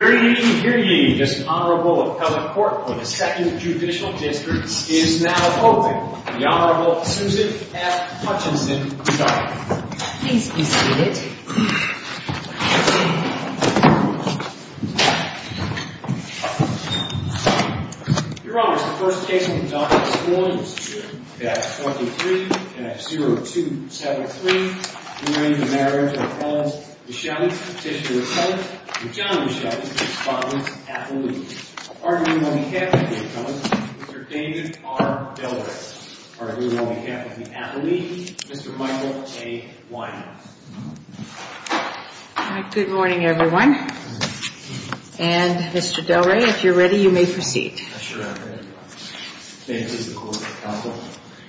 Hear ye, hear ye, this Honorable Appellate Court for the Second Judicial District is now open. The Honorable Susan F. Hutchinson is our witness. Please be seated. Your Honors, the first case we've done this morning is the F-43 and F-0273, during the marriage of Appellant Micheli, Sister Appellate, and John Micheli, Respondent Appellate. Arguing on behalf of the Appellant, Mr. David R. Delray. Arguing on behalf of the Appellate, Mr. Michael A. Weiner. Good morning, everyone. And, Mr. Delray, if you're ready, you may proceed. I'm sure I'm ready.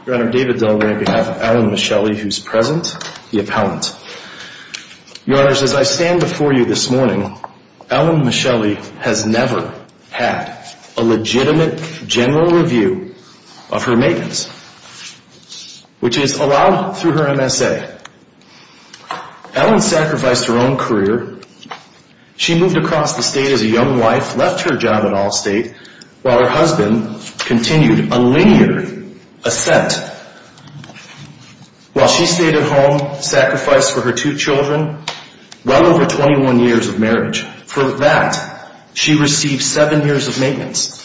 Your Honor, David Delray on behalf of Alan Micheli, who's present, the Appellant. Your Honors, as I stand before you this morning, Alan Micheli has never had a legitimate general review of her maintenance, which is allowed through her MSA. Alan sacrificed her own career. She moved across the state as a young wife, left her job at Allstate, while her husband continued a linear ascent. While she stayed at home, sacrificed for her two children, well over 21 years of marriage. For that, she received seven years of maintenance.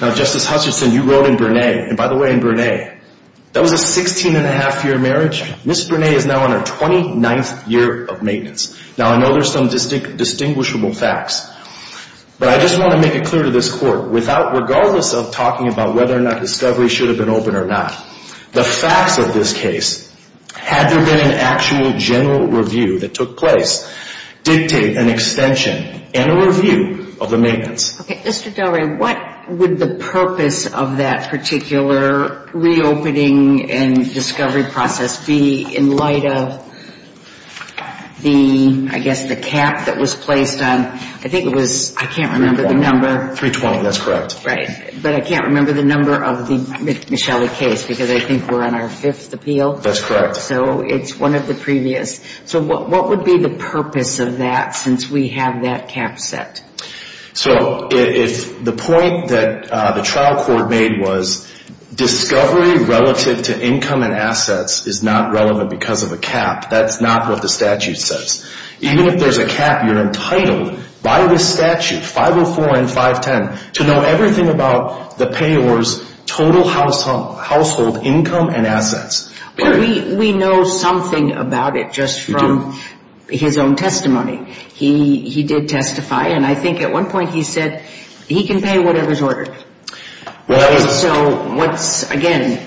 Now, Justice Hutchinson, you wrote in Bernay, and by the way, in Bernay, that was a 16 1⁄2 year marriage. Ms. Bernay is now on her 29th year of maintenance. Now, I know there's some distinguishable facts. But I just want to make it clear to this Court, regardless of talking about whether or not discovery should have been open or not, the facts of this case, had there been an actual general review that took place, dictate an extension and a review of the maintenance. Okay. Mr. Delray, what would the purpose of that particular reopening and discovery process be in light of the, I guess, the cap that was placed on, I think it was, I can't remember the number. 312, that's correct. Right. But I can't remember the number of the Michelle case because I think we're on our fifth appeal. That's correct. So it's one of the previous. So what would be the purpose of that since we have that cap set? So if the point that the trial court made was discovery relative to income and assets is not relevant because of a cap, that's not what the statute says. Even if there's a cap, you're entitled by the statute, 504 and 510, to know everything about the payor's total household income and assets. We know something about it just from his own testimony. He did testify, and I think at one point he said he can pay whatever's ordered. Right. And so what's, again,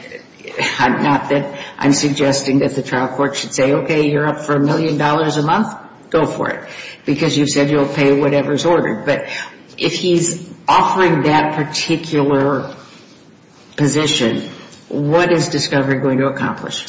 not that I'm suggesting that the trial court should say, okay, you're up for a million dollars a month, go for it, because you said you'll pay whatever's ordered. But if he's offering that particular position, what is discovery going to accomplish?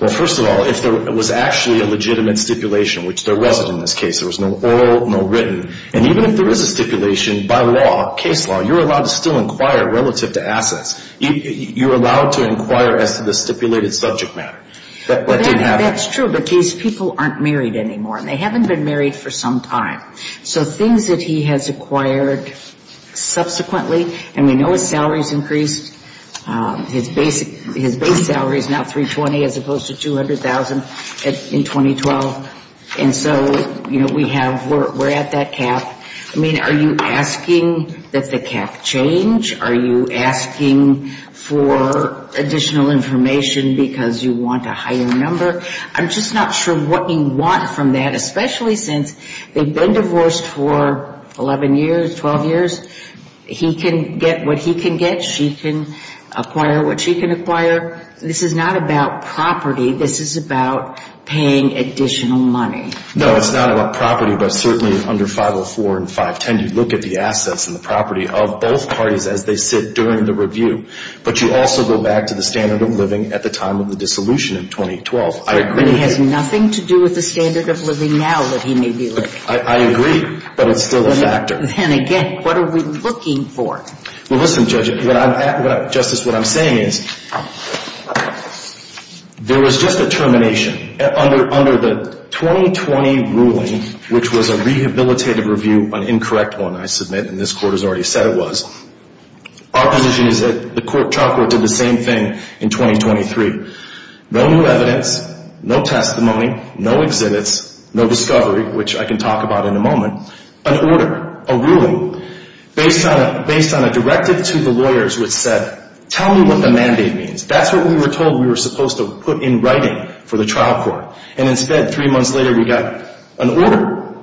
Well, first of all, if there was actually a legitimate stipulation, which there wasn't in this case, there was no oral, no written, and even if there is a stipulation by law, case law, you're allowed to still inquire relative to assets. You're allowed to inquire as to the stipulated subject matter. That didn't happen. That's true, but these people aren't married anymore, and they haven't been married for some time. So things that he has acquired subsequently, and we know his salary's increased. His base salary is now 320, as opposed to 200,000 in 2012. And so, you know, we have, we're at that cap. I mean, are you asking that the cap change? Are you asking for additional information because you want a higher number? I'm just not sure what you want from that, especially since they've been divorced for 11 years, 12 years. He can get what he can get. She can acquire what she can acquire. This is not about property. This is about paying additional money. No, it's not about property, but certainly under 504 and 510, you look at the assets and the property of both parties as they sit during the review. But you also go back to the standard of living at the time of the dissolution in 2012. I agree. It has nothing to do with the standard of living now that he may be living. I agree, but it's still a factor. Then again, what are we looking for? Well, listen, Justice, what I'm saying is there was just a termination. Under the 2020 ruling, which was a rehabilitative review, an incorrect one, I submit, and this Court has already said it was, our position is that the trial court did the same thing in 2023. No new evidence, no testimony, no exhibits, no discovery, which I can talk about in a moment, an order, a ruling based on a directive to the lawyers which said, tell me what the mandate means. That's what we were told we were supposed to put in writing for the trial court. And instead, three months later, we got an order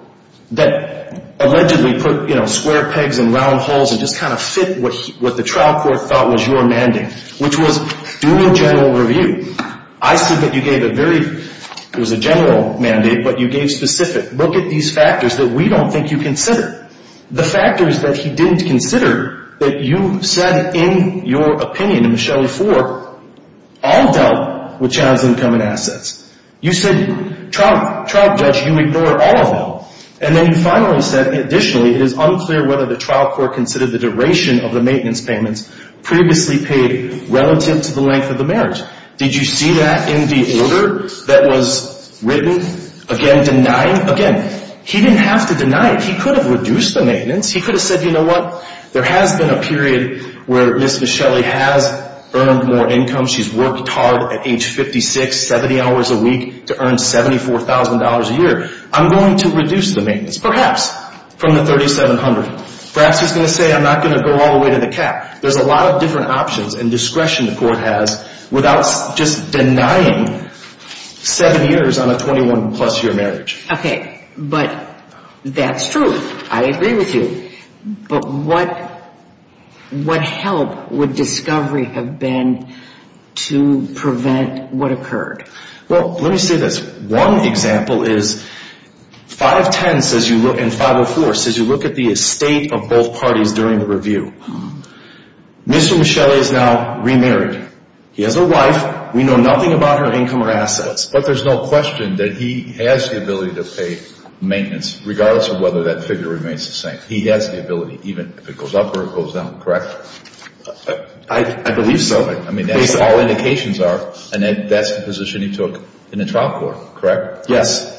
that allegedly put, you know, square pegs and round holes and just kind of fit what the trial court thought was your mandate, which was doing general review. I submit you gave a very, it was a general mandate, but you gave specific. Look at these factors that we don't think you considered. The factors that he didn't consider that you said in your opinion, in Michelli 4, all dealt with child's income and assets. You said trial judge, you ignore all of them. And then you finally said additionally it is unclear whether the trial court considered the duration of the maintenance payments previously paid relative to the length of the marriage. Did you see that in the order that was written? Again, denying? Again, he didn't have to deny it. He could have reduced the maintenance. He could have said, you know what, there has been a period where Ms. Michelli has earned more income. She's worked hard at age 56, 70 hours a week to earn $74,000 a year. I'm going to reduce the maintenance, perhaps from the $3,700. Perhaps he's going to say I'm not going to go all the way to the cap. There's a lot of different options and discretion the court has without just denying seven years on a 21-plus year marriage. Okay, but that's true. I agree with you. But what help would discovery have been to prevent what occurred? Well, let me say this. One example is 510 and 504 says you look at the estate of both parties during the review. Mr. Michelli is now remarried. He has a wife. We know nothing about her income or assets. But there's no question that he has the ability to pay maintenance, regardless of whether that figure remains the same. He has the ability, even if it goes up or it goes down, correct? I believe so. I mean, that's what all indications are, and that's the position he took in the trial court, correct? Yes.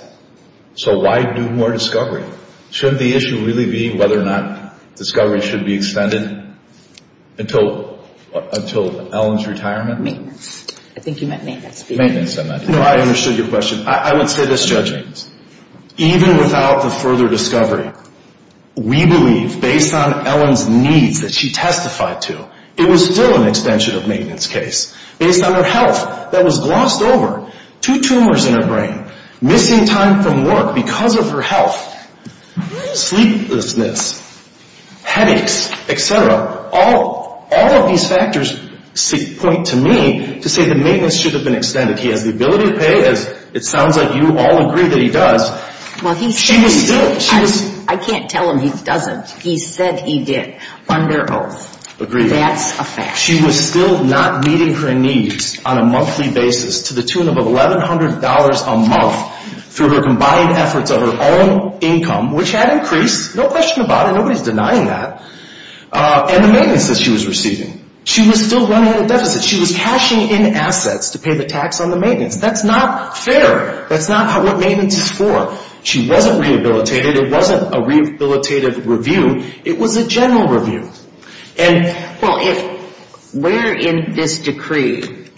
So why do more discovery? Shouldn't the issue really be whether or not discovery should be extended until Ellen's retirement? Maintenance. I think you meant maintenance. No, I understood your question. I would say this, Judge. Even without the further discovery, we believe, based on Ellen's needs that she testified to, it was still an extension of maintenance case, based on her health that was glossed over. Two tumors in her brain, missing time from work because of her health, sleeplessness, headaches, et cetera. All of these factors point to me to say that maintenance should have been extended. He has the ability to pay, as it sounds like you all agree that he does. Well, he said he did. I can't tell him he doesn't. He said he did under oath. Agreed. That's a fact. She was still not meeting her needs on a monthly basis, to the tune of $1,100 a month, through her combined efforts of her own income, which had increased, no question about it, nobody's denying that. And the maintenance that she was receiving. She was still running a deficit. She was cashing in assets to pay the tax on the maintenance. That's not fair. That's not what maintenance is for. She wasn't rehabilitated. It wasn't a rehabilitative review. It was a general review. Well, where in this decree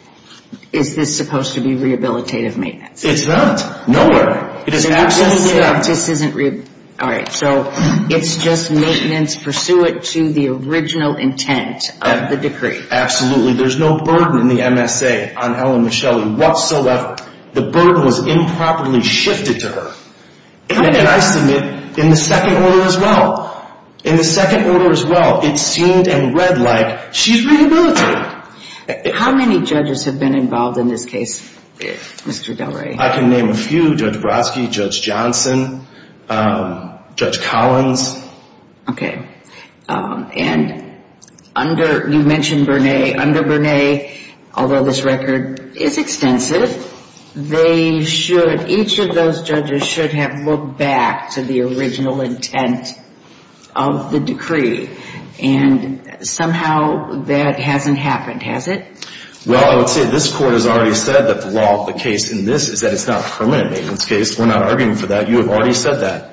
is this supposed to be rehabilitative maintenance? It's not. Nowhere. It is absolutely not. All right. So it's just maintenance pursuant to the original intent of the decree. There's no burden in the MSA on Ellen Michelli whatsoever. The burden was improperly shifted to her. And I submit, in the second order as well, in the second order as well, it seemed and read like she's rehabilitated. How many judges have been involved in this case, Mr. Del Rey? I can name a few. Judge Brodsky, Judge Johnson, Judge Collins. Okay. And under, you mentioned Bernay, under Bernay, although this record is extensive, they should, each of those judges should have looked back to the original intent of the decree. And somehow that hasn't happened, has it? Well, I would say this Court has already said that the law of the case in this is that it's not permanent maintenance case. We're not arguing for that. You have already said that.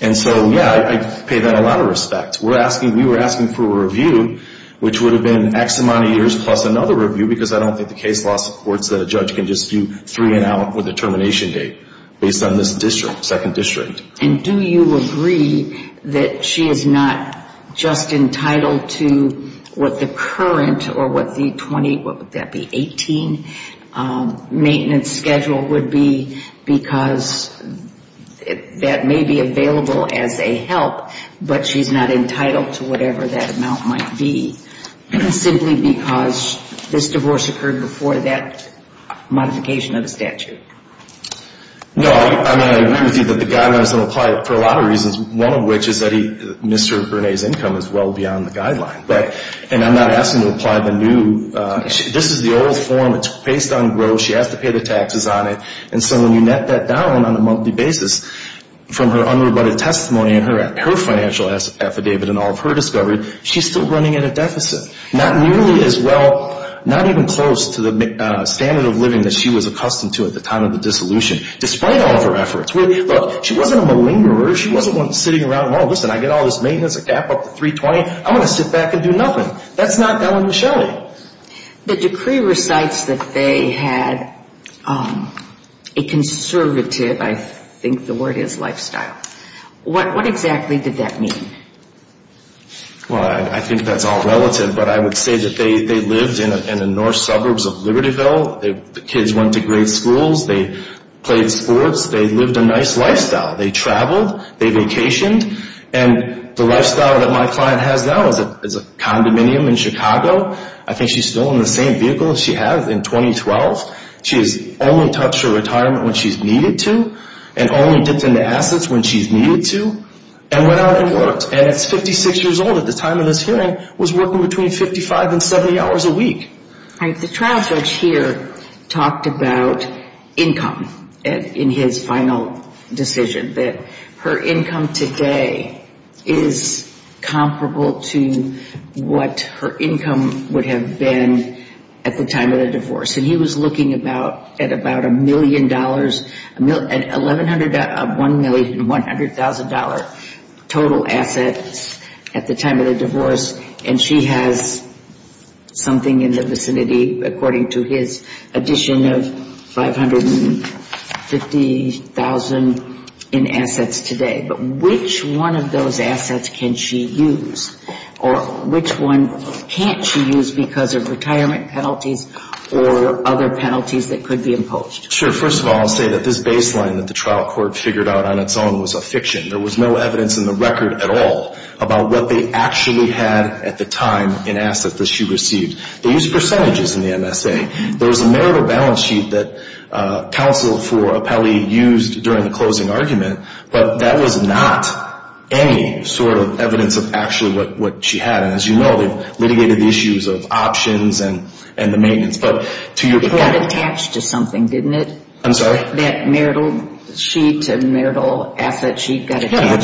And so, yeah, I pay that a lot of respect. We're asking, we were asking for a review which would have been X amount of years plus another review because I don't think the case law supports that a judge can just do three and out with a termination date based on this district, second district. And do you agree that she is not just entitled to what the current or what the 20, what would that be, 18 maintenance schedule would be because that may be available as a help but she's not entitled to whatever that amount might be simply because this divorce occurred before that modification of the statute? No. I mean, I agree with you that the guideline is going to apply for a lot of reasons, one of which is that Mr. Bernays' income is well beyond the guideline. And I'm not asking to apply the new, this is the old form. It's based on gross. She has to pay the taxes on it. And so when you net that down on a monthly basis from her unrebutted testimony and her financial affidavit and all of her discovery, she's still running at a deficit, not nearly as well, not even close to the standard of living that she was accustomed to at the time of the dissolution despite all of her efforts. Look, she wasn't a malingerer. She wasn't one sitting around, well, listen, I get all this maintenance, a gap up to 320. I'm going to sit back and do nothing. That's not Ellen Michelli. The decree recites that they had a conservative, I think the word is lifestyle. What exactly did that mean? Well, I think that's all relative, but I would say that they lived in the north suburbs of Libertyville. The kids went to great schools. They played sports. They lived a nice lifestyle. They traveled. They vacationed. And the lifestyle that my client has now is a condominium in Chicago. I think she's still in the same vehicle as she has in 2012. She has only touched her retirement when she's needed to and only dipped into assets when she's needed to and went out and worked. And at 56 years old at the time of this hearing was working between 55 and 70 hours a week. All right. The trial judge here talked about income in his final decision, that her income today is comparable to what her income would have been at the time of the divorce. And he was looking at about a million dollars, $1,100,000 total assets at the time of the divorce. And she has something in the vicinity, according to his addition, of $550,000 in assets today. But which one of those assets can she use? Or which one can't she use because of retirement penalties or other penalties that could be imposed? First of all, I'll say that this baseline that the trial court figured out on its own was a fiction. There was no evidence in the record at all about what they actually had at the time in assets that she received. They used percentages in the MSA. There was a merit of balance sheet that counsel for appellee used during the closing argument, but that was not any sort of evidence of actually what she had. And as you know, they've litigated the issues of options and the maintenance. But to your point— It got attached to something, didn't it? I'm sorry? That marital sheet, that marital asset sheet got attached. Yeah,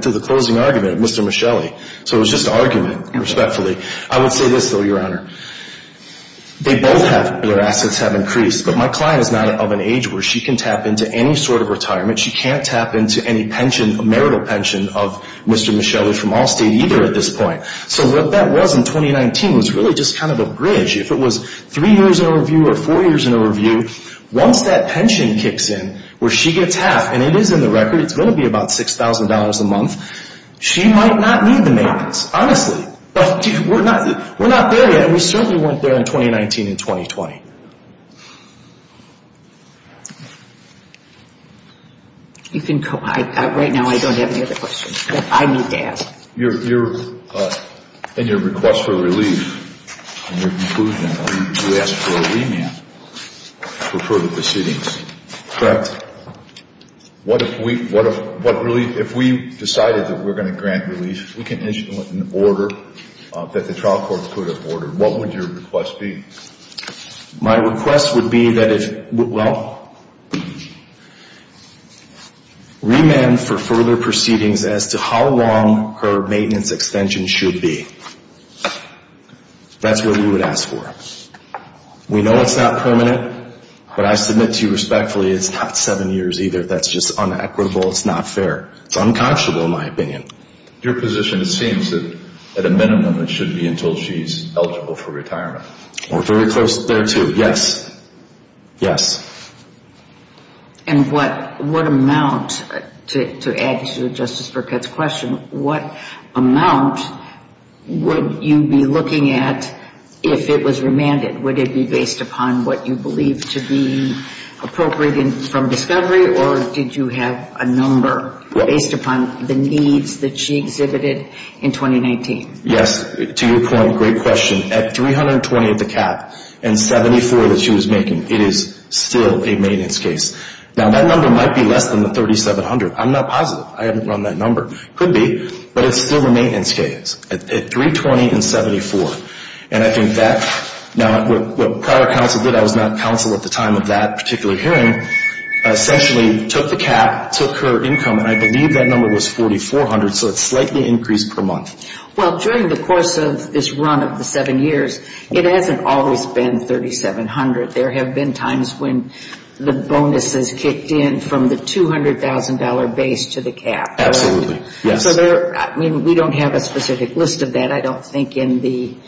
to the closing argument, Mr. Michelli. So it was just argument, respectfully. I would say this, though, Your Honor. They both have—their assets have increased, but my client is not of an age where she can tap into any sort of retirement. She can't tap into any pension, marital pension of Mr. Michelli from Allstate either at this point. So what that was in 2019 was really just kind of a bridge. If it was three years in a review or four years in a review, once that pension kicks in, where she gets half, and it is in the record, it's going to be about $6,000 a month, she might not need the maintenance, honestly. We're not there yet. We certainly weren't there in 2019 and 2020. You can—right now I don't have any other questions that I need to ask. In your request for relief, in your conclusion, you asked for a remand for further proceedings. Correct. What if we—if we decided that we're going to grant relief, we can issue an order that the trial court could have ordered, what would your request be? My request would be that if—well, remand for further proceedings as to how long her maintenance extension should be. That's what we would ask for. We know it's not permanent, but I submit to you respectfully it's not seven years either. That's just unequitable. It's not fair. It's unconscionable, in my opinion. Your position, it seems that at a minimum it should be until she's eligible for retirement. We're very close there, too. Yes. Yes. And what amount, to add to Justice Burkett's question, what amount would you be looking at if it was remanded? Would it be based upon what you believe to be appropriate from discovery, or did you have a number based upon the needs that she exhibited in 2019? Yes. To your point, great question. At 320 at the cap and 74 that she was making, it is still a maintenance case. Now, that number might be less than the 3,700. I'm not positive. I haven't run that number. It could be, but it's still a maintenance case at 320 and 74. And I think that, now, what prior counsel did, I was not counsel at the time of that particular hearing, essentially took the cap, took her income, and I believe that number was 4,400, so it's slightly increased per month. Well, during the course of this run of the seven years, it hasn't always been 3,700. There have been times when the bonuses kicked in from the $200,000 base to the cap. Absolutely, yes. I mean, we don't have a specific list of that, I don't think, in the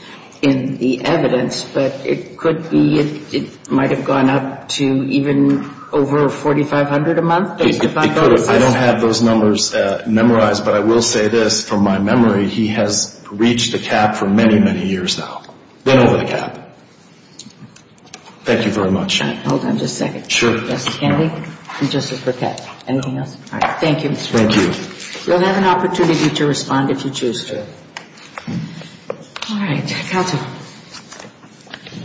evidence, but it could be it might have gone up to even over 4,500 a month based upon bonuses. It could have. I don't have those numbers memorized, but I will say this, from my memory, he has reached the cap for many, many years now, been over the cap. Thank you very much. Hold on just a second. Sure. Justice Kennedy and Justice Burkett, anything else? No. You'll have an opportunity to respond if you choose to. All right. Counsel. Good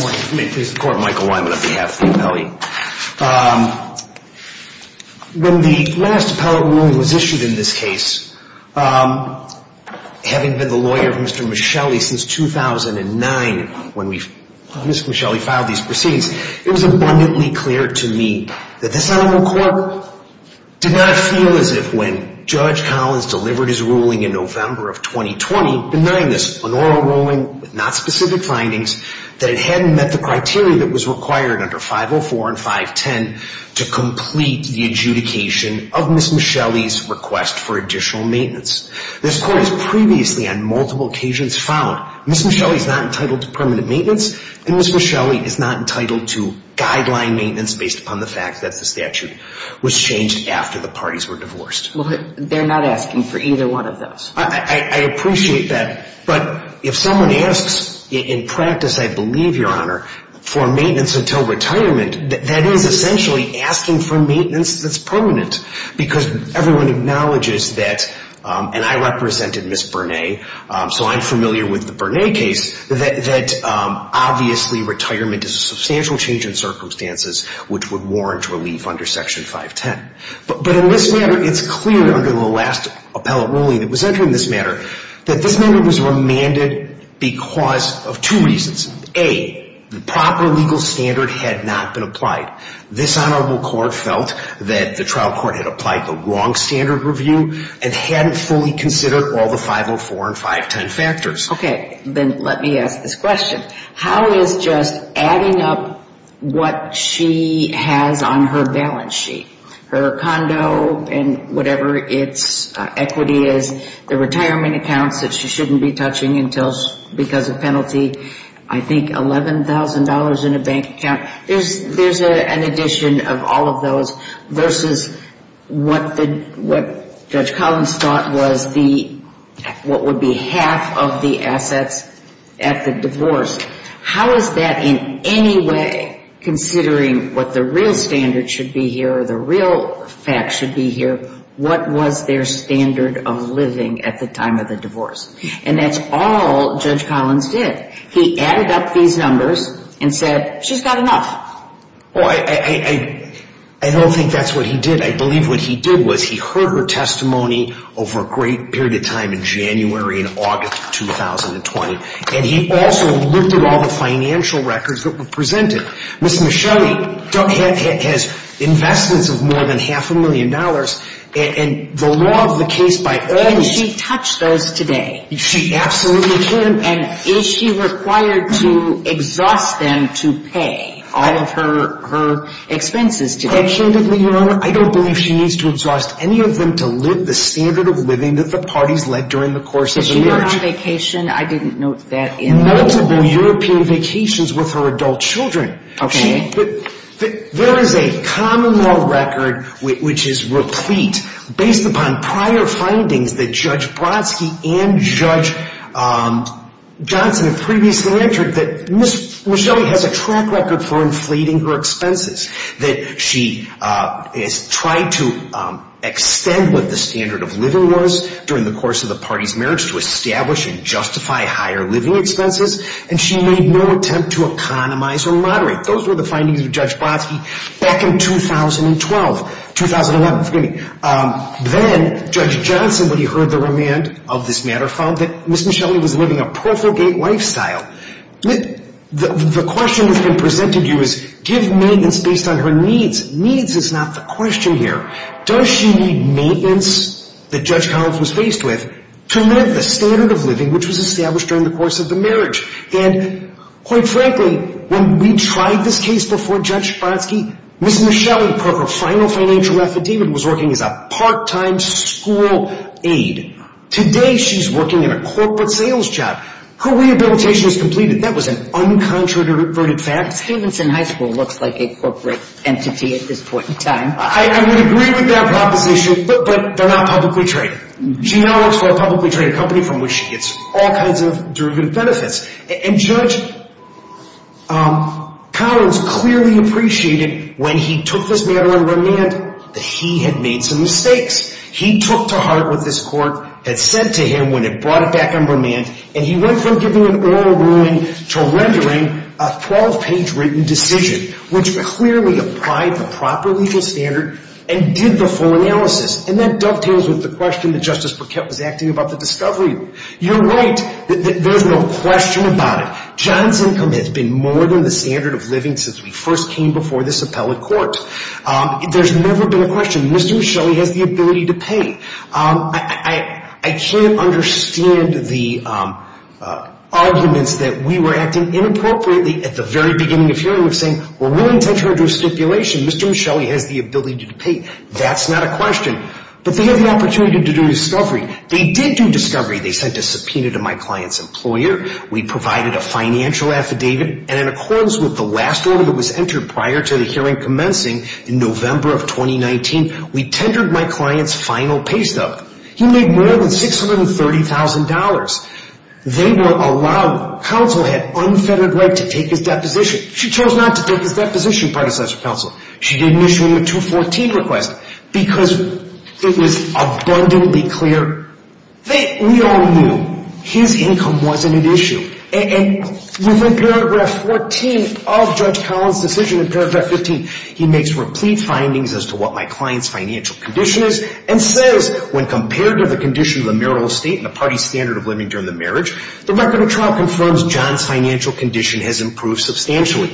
morning. May it please the Court, Michael Weinman on behalf of the appellee. When the last appellate ruling was issued in this case, having been the lawyer of Mr. Michelli since 2009, when Mr. Michelli filed these proceedings, it was abundantly clear to me that this animal court did not feel as if, when Judge Collins delivered his ruling in November of 2020, denying this an oral ruling with not specific findings, that it hadn't met the criteria that was required under 504 and 510 to complete the adjudication of Ms. Michelli's request for additional maintenance. This court has previously, on multiple occasions, found Ms. Michelli is not entitled to permanent maintenance and Ms. Michelli is not entitled to guideline maintenance, based upon the fact that the statute was changed after the parties were divorced. Well, they're not asking for either one of those. I appreciate that, but if someone asks, in practice, I believe, Your Honor, for maintenance until retirement, that is essentially asking for maintenance that's permanent because everyone acknowledges that, and I represented Ms. that, obviously, retirement is a substantial change in circumstances, which would warrant relief under Section 510. But in this matter, it's clear, under the last appellate ruling that was entered in this matter, that this matter was remanded because of two reasons. A, the proper legal standard had not been applied. This honorable court felt that the trial court had applied the wrong standard review and hadn't fully considered all the 504 and 510 factors. Okay, then let me ask this question. How is just adding up what she has on her balance sheet, her condo and whatever its equity is, the retirement accounts that she shouldn't be touching because of penalty, I think $11,000 in a bank account. There's an addition of all of those versus what Judge Collins thought was the what would be half of the assets at the divorce. How is that in any way considering what the real standard should be here or the real facts should be here? What was their standard of living at the time of the divorce? And that's all Judge Collins did. He added up these numbers and said, She's got enough. I don't think that's what he did. I believe what he did was he heard her testimony over a great period of time in January and August of 2020. And he also looked at all the financial records that were presented. Ms. Michelli has investments of more than half a million dollars, and the law of the case by earnings. Can she touch those today? She absolutely can. And is she required to exhaust them to pay all of her expenses today? Candidly, Your Honor, I don't believe she needs to exhaust any of them to live the standard of living that the parties led during the course of the marriage. Was she on vacation? I didn't note that. Multiple European vacations with her adult children. Okay. There is a common law record which is replete based upon prior findings that Judge Brodsky and Judge Johnson have previously entered that Ms. Michelli has a track record for inflating her expenses, that she has tried to extend what the standard of living was during the course of the parties' marriage to establish and justify higher living expenses, and she made no attempt to economize or moderate. Those were the findings of Judge Brodsky back in 2012. 2011, forgive me. Then Judge Johnson, when he heard the remand of this matter, found that Ms. Michelli was living a profligate lifestyle. The question that has been presented to you is give maintenance based on her needs. Needs is not the question here. Does she need maintenance that Judge Collins was faced with to live the standard of living which was established during the course of the marriage? And quite frankly, when we tried this case before Judge Brodsky, Ms. Michelli, per her final financial affidavit, was working as a part-time school aide. Today she's working in a corporate sales job. Her rehabilitation is completed. That was an uncontroverted fact. Stevenson High School looks like a corporate entity at this point in time. I would agree with that proposition, but they're not publicly traded. She now works for a publicly traded company from which she gets all kinds of derivative benefits. And Judge Collins clearly appreciated when he took this matter on remand that he had made some mistakes. He took to heart what this court had said to him when it brought it back on remand, and he went from giving an oral ruling to rendering a 12-page written decision, which clearly applied the proper legal standard and did the full analysis. And that dovetails with the question that Justice Burkett was acting about the discovery. You're right that there's no question about it. John's income has been more than the standard of living since we first came before this appellate court. There's never been a question. Mr. Michelli has the ability to pay. I can't understand the arguments that we were acting inappropriately at the very beginning of hearing of saying we're willing to enter into a stipulation. Mr. Michelli has the ability to pay. That's not a question. But they have the opportunity to do discovery. They did do discovery. They sent a subpoena to my client's employer. We provided a financial affidavit, and in accordance with the last order that was entered prior to the hearing commencing in November of 2019, we tendered my client's final pay stub. He made more than $630,000. They were allowed, counsel had unfettered right to take his deposition. She chose not to take his deposition, part of the selection council. She didn't issue him a 214 request because it was abundantly clear. We all knew his income wasn't an issue. And within paragraph 14 of Judge Collins' decision, in paragraph 15, he makes replete findings as to what my client's financial condition is and says when compared to the condition of the marital estate and the party's standard of living during the marriage, the record of trial confirms John's financial condition has improved substantially.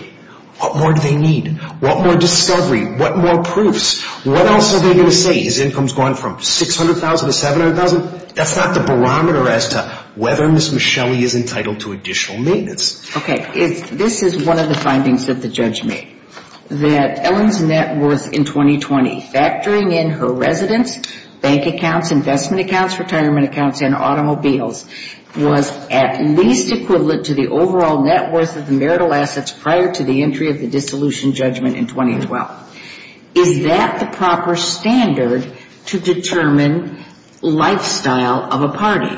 What more do they need? What more discovery? What more proofs? What else are they going to say? His income's gone from $600,000 to $700,000? That's not the barometer as to whether Ms. Michelli is entitled to additional maintenance. Okay. This is one of the findings that the judge made, that Ellen's net worth in 2020, factoring in her residence, bank accounts, investment accounts, retirement accounts, and automobiles, was at least equivalent to the overall net worth of the marital assets prior to the entry of the dissolution judgment in 2012. Is that the proper standard to determine lifestyle of a party?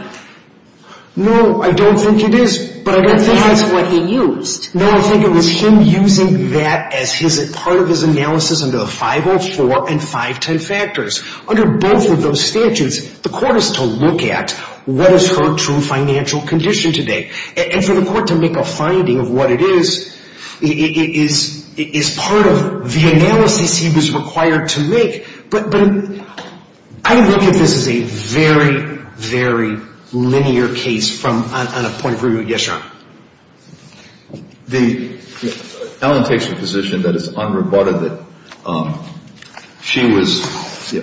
No, I don't think it is. But I think that's what he used. No, I think it was him using that as part of his analysis under the 504 and 510 factors. Under both of those statutes, the court is to look at what is her true financial condition today. And for the court to make a finding of what it is, it is part of the analysis he was required to make. But I look at this as a very, very linear case on a point of review. Yes, Your Honor. Ellen takes the position that it's unreported that she was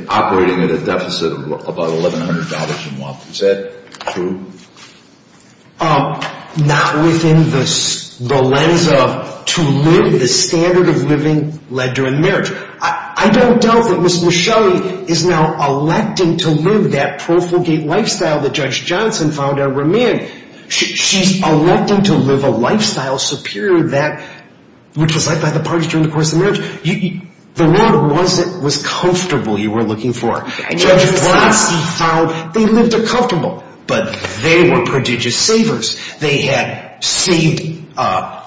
operating at a deficit of about $1,100 a month. Is that true? Not within the lens of to live, the standard of living led to a marriage. I don't doubt that Ms. Michelli is now electing to live that profligate lifestyle that Judge Johnson found a remand. She's electing to live a lifestyle superior to that which was liked by the parties during the course of the marriage. The woman was comfortable, you were looking for. Judge Blasey found they lived a comfortable, but they were prodigious savers. They had saved,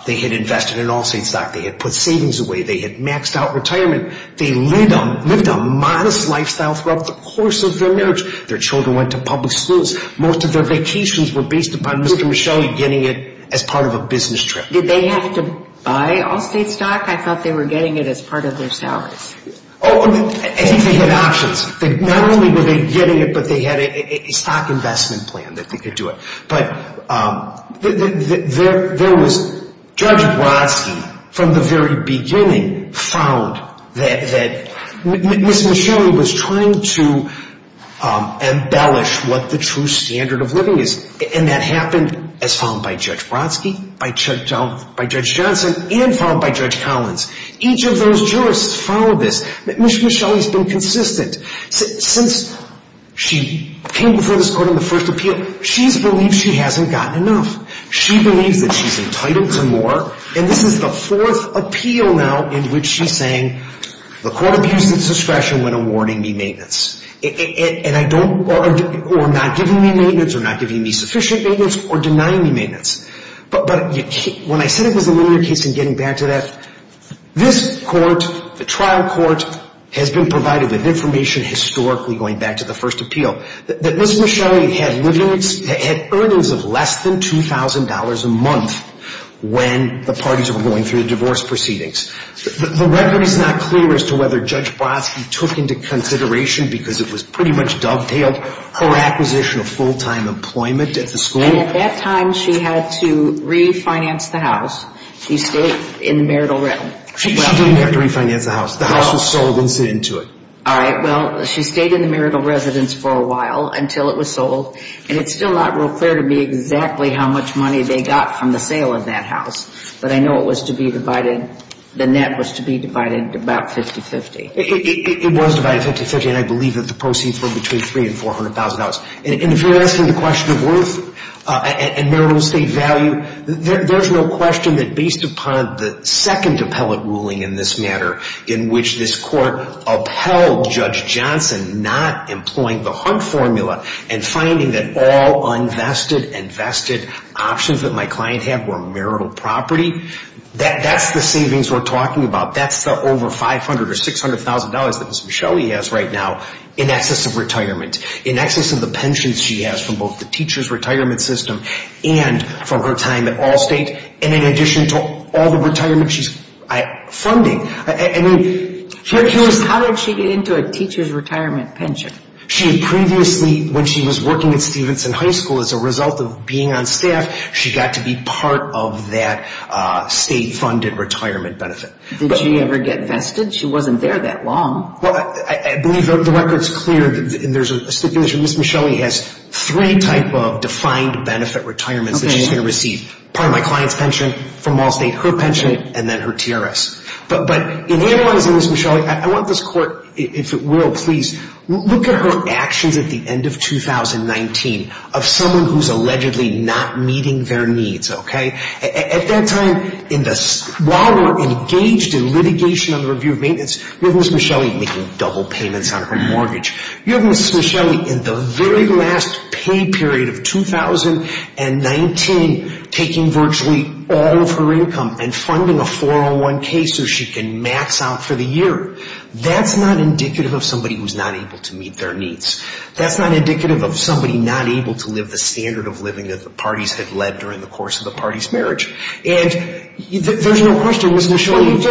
they had invested in Allstate stock, they had put savings away, they had maxed out retirement. They lived a modest lifestyle throughout the course of their marriage. Their children went to public schools. Most of their vacations were based upon Mr. Michelli getting it as part of a business trip. Did they have to buy Allstate stock? I thought they were getting it as part of their salaries. I think they had options. Not only were they getting it, but they had a stock investment plan that they could do it. But there was Judge Brodsky, from the very beginning, found that Ms. Michelli was trying to embellish what the true standard of living is. And that happened as found by Judge Brodsky, by Judge Johnson, and found by Judge Collins. Each of those jurists followed this. Ms. Michelli's been consistent. Since she came before this court in the first appeal, she's believed she hasn't gotten enough. She believes that she's entitled to more. And this is the fourth appeal now in which she's saying, the court abused its discretion when awarding me maintenance. Or not giving me maintenance, or not giving me sufficient maintenance, or denying me maintenance. But when I said it was a linear case, and getting back to that, this court, the trial court, has been provided with information historically going back to the first appeal. That Ms. Michelli had earnings of less than $2,000 a month when the parties were going through the divorce proceedings. The record is not clear as to whether Judge Brodsky took into consideration, because it was pretty much dovetailed, her acquisition of full-time employment at the school. And at that time, she had to refinance the house. She stayed in the marital realm. She didn't have to refinance the house. The house was sold and sent into it. All right, well, she stayed in the marital residence for a while until it was sold. And it's still not real clear to me exactly how much money they got from the sale of that house. But I know it was to be divided, the net was to be divided about 50-50. It was divided 50-50, and I believe that the proceeds were between $300,000 and $400,000. And if you're asking the question of worth and marital estate value, there's no question that based upon the second appellate ruling in this matter, in which this court upheld Judge Johnson not employing the Hunt formula and finding that all unvested and vested options that my client had were marital property, that's the savings we're talking about. That's the over $500,000 or $600,000 that Ms. Michelli has right now in excess of retirement, in excess of the pensions she has from both the teacher's retirement system and from her time at Allstate, and in addition to all the retirement she's funding. How did she get into a teacher's retirement pension? Previously, when she was working at Stevenson High School as a result of being on staff, she got to be part of that state-funded retirement benefit. Did she ever get vested? She wasn't there that long. I believe the record's clear. There's a stipulation Ms. Michelli has three type of defined benefit retirements that she's going to receive. Part of my client's pension from Allstate, her pension, and then her TRS. But in analyzing Ms. Michelli, I want this court, if it will please, look at her actions at the end of 2019 of someone who's allegedly not meeting their needs. At that time, while we're engaged in litigation on the review of maintenance, you have Ms. Michelli making double payments on her mortgage. You have Ms. Michelli in the very last pay period of 2019 taking virtually all of her income and funding a 401k so she can max out for the year. That's not indicative of somebody who's not able to meet their needs. That's not indicative of somebody not able to live the standard of living that the parties had led during the course of the party's marriage. And there's no question Ms. Michelli...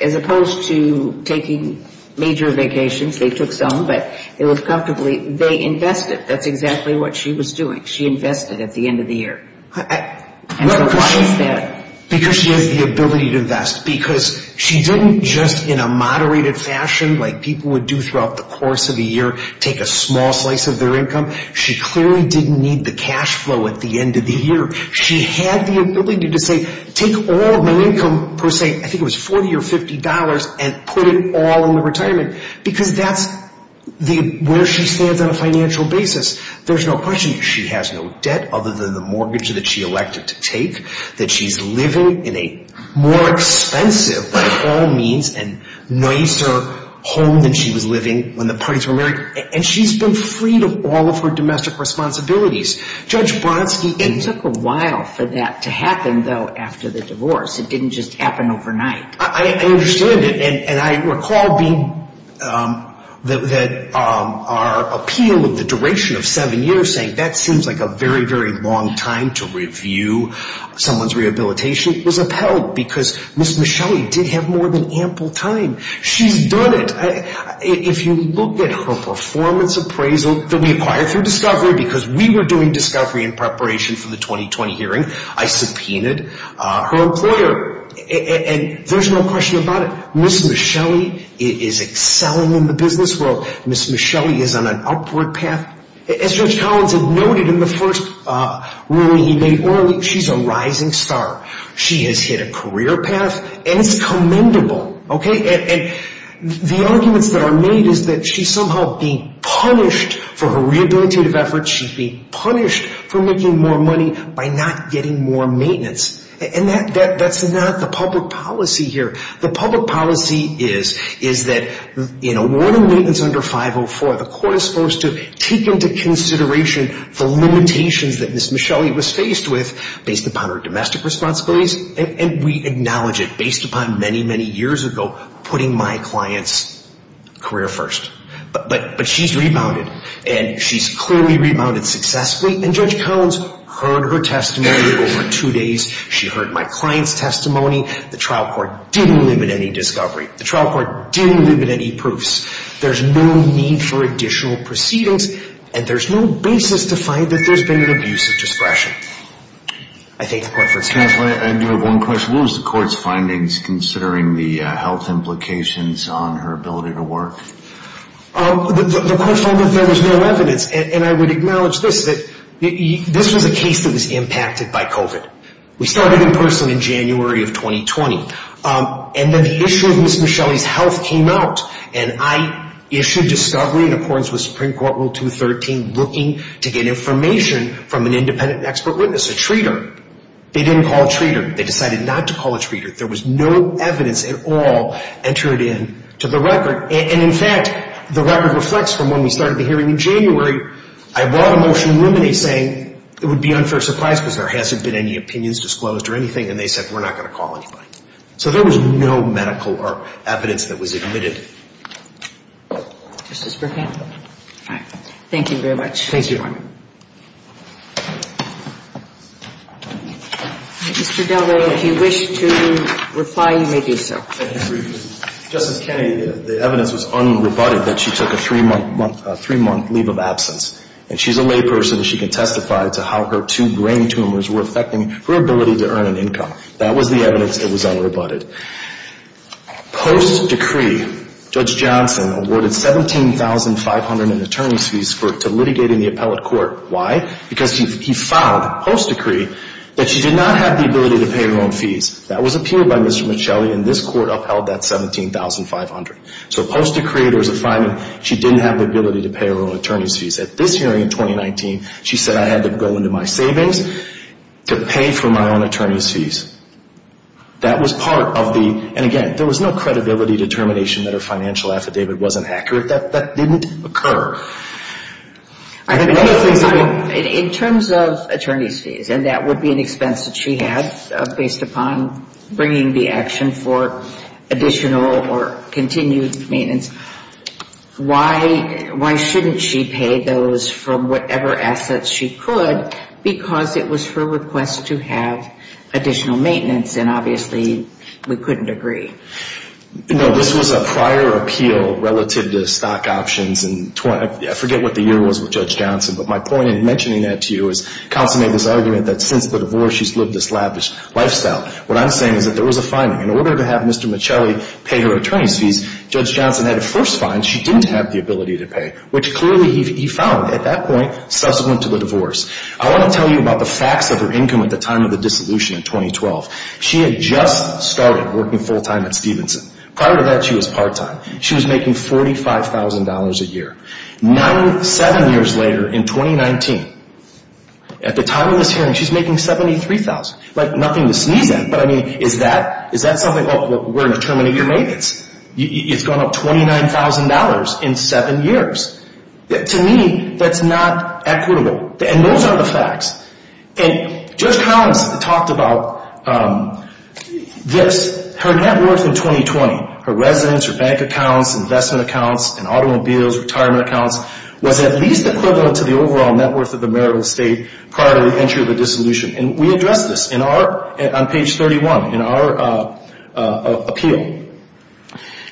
As opposed to taking major vacations, they took some, but it was comfortably, they invested. That's exactly what she was doing. She invested at the end of the year. And so why is that? Because she has the ability to invest. Because she didn't just, in a moderated fashion like people would do throughout the course of the year, take a small slice of their income. She clearly didn't need the cash flow at the end of the year. She had the ability to say, take all of my income per se. I think it was $40 or $50 and put it all in the retirement. Because that's where she stands on a financial basis. There's no question she has no debt other than the mortgage that she elected to take. That she's living in a more expensive by all means and nicer home than she was living when the parties were married. And she's been freed of all of her domestic responsibilities. It took a while for that to happen, though, after the divorce. It didn't just happen overnight. I understand it. And I recall that our appeal of the duration of seven years, saying that seems like a very, very long time to review someone's rehabilitation, was upheld because Ms. Michelli did have more than ample time. She's done it. If you look at her performance appraisal that we acquired through Discovery because we were doing Discovery in preparation for the 2020 hearing, I subpoenaed her employer. And there's no question about it. Ms. Michelli is excelling in the business world. Ms. Michelli is on an upward path. As Judge Collins had noted in the first ruling he made, she's a rising star. She has hit a career path, and it's commendable. And the arguments that are made is that she's somehow being punished for her rehabilitative efforts. She's being punished for making more money by not getting more maintenance. And that's not the public policy here. The public policy is that in awarding maintenance under 504, the court is supposed to take into consideration the limitations that Ms. Michelli was faced with based upon her domestic responsibilities, and we acknowledge it based upon many, many years ago putting my client's career first. But she's rebounded, and she's clearly rebounded successfully, and Judge Collins heard her testimony over two days. She heard my client's testimony. The trial court didn't limit any discovery. The trial court didn't limit any proofs. There's no need for additional proceedings, and there's no basis to find that there's been an abuse of discretion. I thank the court for its testimony. I do have one question. What was the court's findings considering the health implications on her ability to work? The court found that there was no evidence, and I would acknowledge this, that this was a case that was impacted by COVID. We started in person in January of 2020, and then the issue of Ms. Michelli's health came out, and I issued discovery in accordance with Supreme Court Rule 213 looking to get information from an independent expert witness, a treater. They didn't call a treater. They decided not to call a treater. There was no evidence at all entered into the record, and, in fact, the record reflects from when we started the hearing in January. I brought a motion to ruminate saying it would be an unfair surprise because there hasn't been any opinions disclosed or anything, and they said we're not going to call anybody. So there was no medical or evidence that was admitted. Justice Burkett? Thank you very much. Thank you. Mr. Delray, if you wish to reply, you may do so. Justice Kennedy, the evidence was unrebutted that she took a three-month leave of absence, and she's a layperson. She can testify to how her two brain tumors were affecting her ability to earn an income. That was the evidence. It was unrebutted. Post-decree, Judge Johnson awarded $17,500 in attorney's fees to litigate in the appellate court. Why? Because he found, post-decree, that she did not have the ability to pay her own fees. That was appealed by Mr. Michelli, and this court upheld that $17,500. So post-decree, there was a finding she didn't have the ability to pay her own attorney's fees. At this hearing in 2019, she said, I had to go into my savings to pay for my own attorney's fees. That was part of the, and again, there was no credibility determination that her financial affidavit wasn't accurate. That didn't occur. In terms of attorney's fees, and that would be an expense that she had, based upon bringing the action for additional or continued maintenance, why shouldn't she pay those from whatever assets she could, because it was her request to have additional maintenance, and obviously we couldn't agree. No, this was a prior appeal relative to stock options. I forget what the year was with Judge Johnson, but my point in mentioning that to you is Counsel made this argument that since the divorce she's lived this lavish lifestyle. What I'm saying is that there was a finding. In order to have Mr. Michelli pay her attorney's fees, Judge Johnson had to first find she didn't have the ability to pay, which clearly he found at that point, subsequent to the divorce. I want to tell you about the facts of her income at the time of the dissolution in 2012. She had just started working full-time at Stevenson. Prior to that, she was part-time. She was making $45,000 a year. Seven years later in 2019, at the time of this hearing, she's making $73,000. Like nothing to sneeze at, but I mean, is that something we're determining your maintenance? It's gone up $29,000 in seven years. To me, that's not equitable, and those are the facts. And Judge Collins talked about this, her net worth in 2020, her residence, her bank accounts, investment accounts, and automobiles, retirement accounts, was at least equivalent to the overall net worth of the marital estate prior to the entry of the dissolution. And we addressed this on page 31 in our appeal.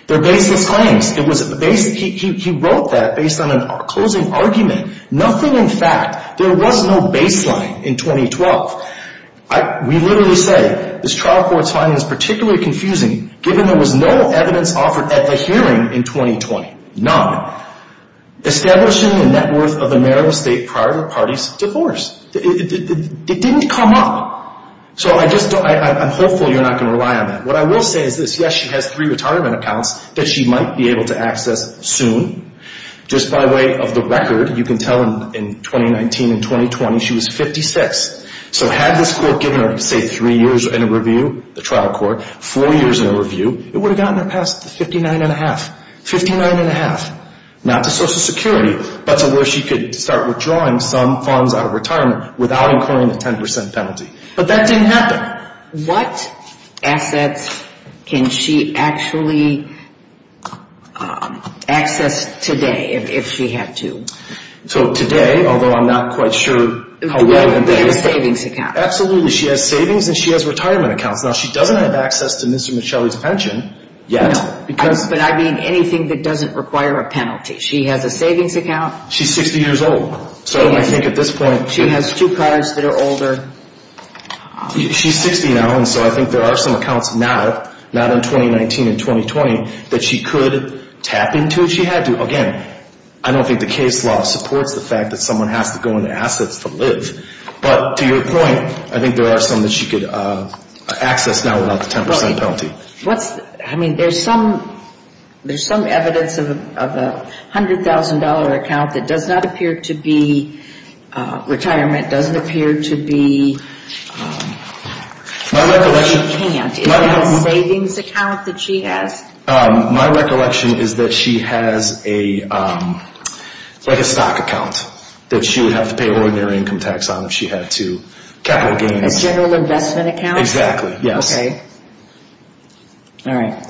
They're baseless claims. He wrote that based on a closing argument, nothing in fact. There was no baseline in 2012. We literally say this trial court's finding is particularly confusing given there was no evidence offered at the hearing in 2020, none, establishing the net worth of the marital estate prior to the party's divorce. It didn't come up. So I'm hopeful you're not going to rely on that. What I will say is this. Yes, she has three retirement accounts that she might be able to access soon. Just by way of the record, you can tell in 2019 and 2020 she was 56. So had this court given her, say, three years in a review, the trial court, four years in a review, it would have gotten her past the 59 1⁄2, 59 1⁄2, not to Social Security, but to where she could start withdrawing some funds out of retirement without incurring a 10 percent penalty. But that didn't happen. What assets can she actually access today if she had to? So today, although I'm not quite sure how well in days. The savings account. Absolutely. She has savings and she has retirement accounts. Now, she doesn't have access to Mr. Michelli's pension yet. No, but I mean anything that doesn't require a penalty. She has a savings account. She's 60 years old. So I think at this point. She has two cars that are older. She's 60 now, and so I think there are some accounts now, not in 2019 and 2020, that she could tap into if she had to. Again, I don't think the case law supports the fact that someone has to go into assets to live. But to your point, I think there are some that she could access now without the 10 percent penalty. I mean, there's some evidence of a $100,000 account that does not appear to be retirement, doesn't appear to be, or she can't. Is it a savings account that she has? My recollection is that she has like a stock account that she would have to pay ordinary income tax on if she had to. Capital gains. A general investment account? Exactly, yes. Okay. All right.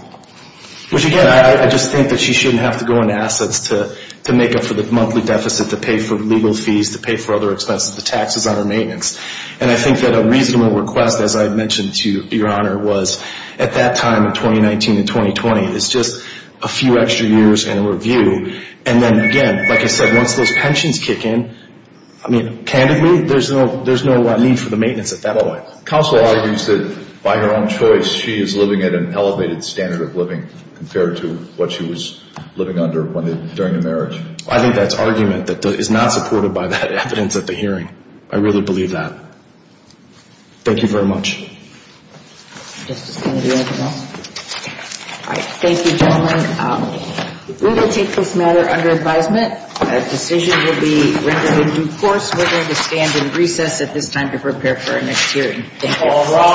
Which, again, I just think that she shouldn't have to go into assets to make up for the monthly deficit, to pay for legal fees, to pay for other expenses, the taxes on her maintenance. And I think that a reasonable request, as I mentioned to Your Honor, was at that time in 2019 and 2020, it's just a few extra years and a review. And then, again, like I said, once those pensions kick in, I mean, candidly, there's no need for the maintenance at that point. Counsel argues that by her own choice she is living at an elevated standard of living compared to what she was living under during the marriage. I think that's argument that is not supported by the evidence at the hearing. I really believe that. Thank you very much. Justice Kennedy, anything else? All right. Thank you, gentlemen. We will take this matter under advisement. A decision will be rendered in due course. We're going to stand in recess at this time to prepare for our next hearing. Thank you.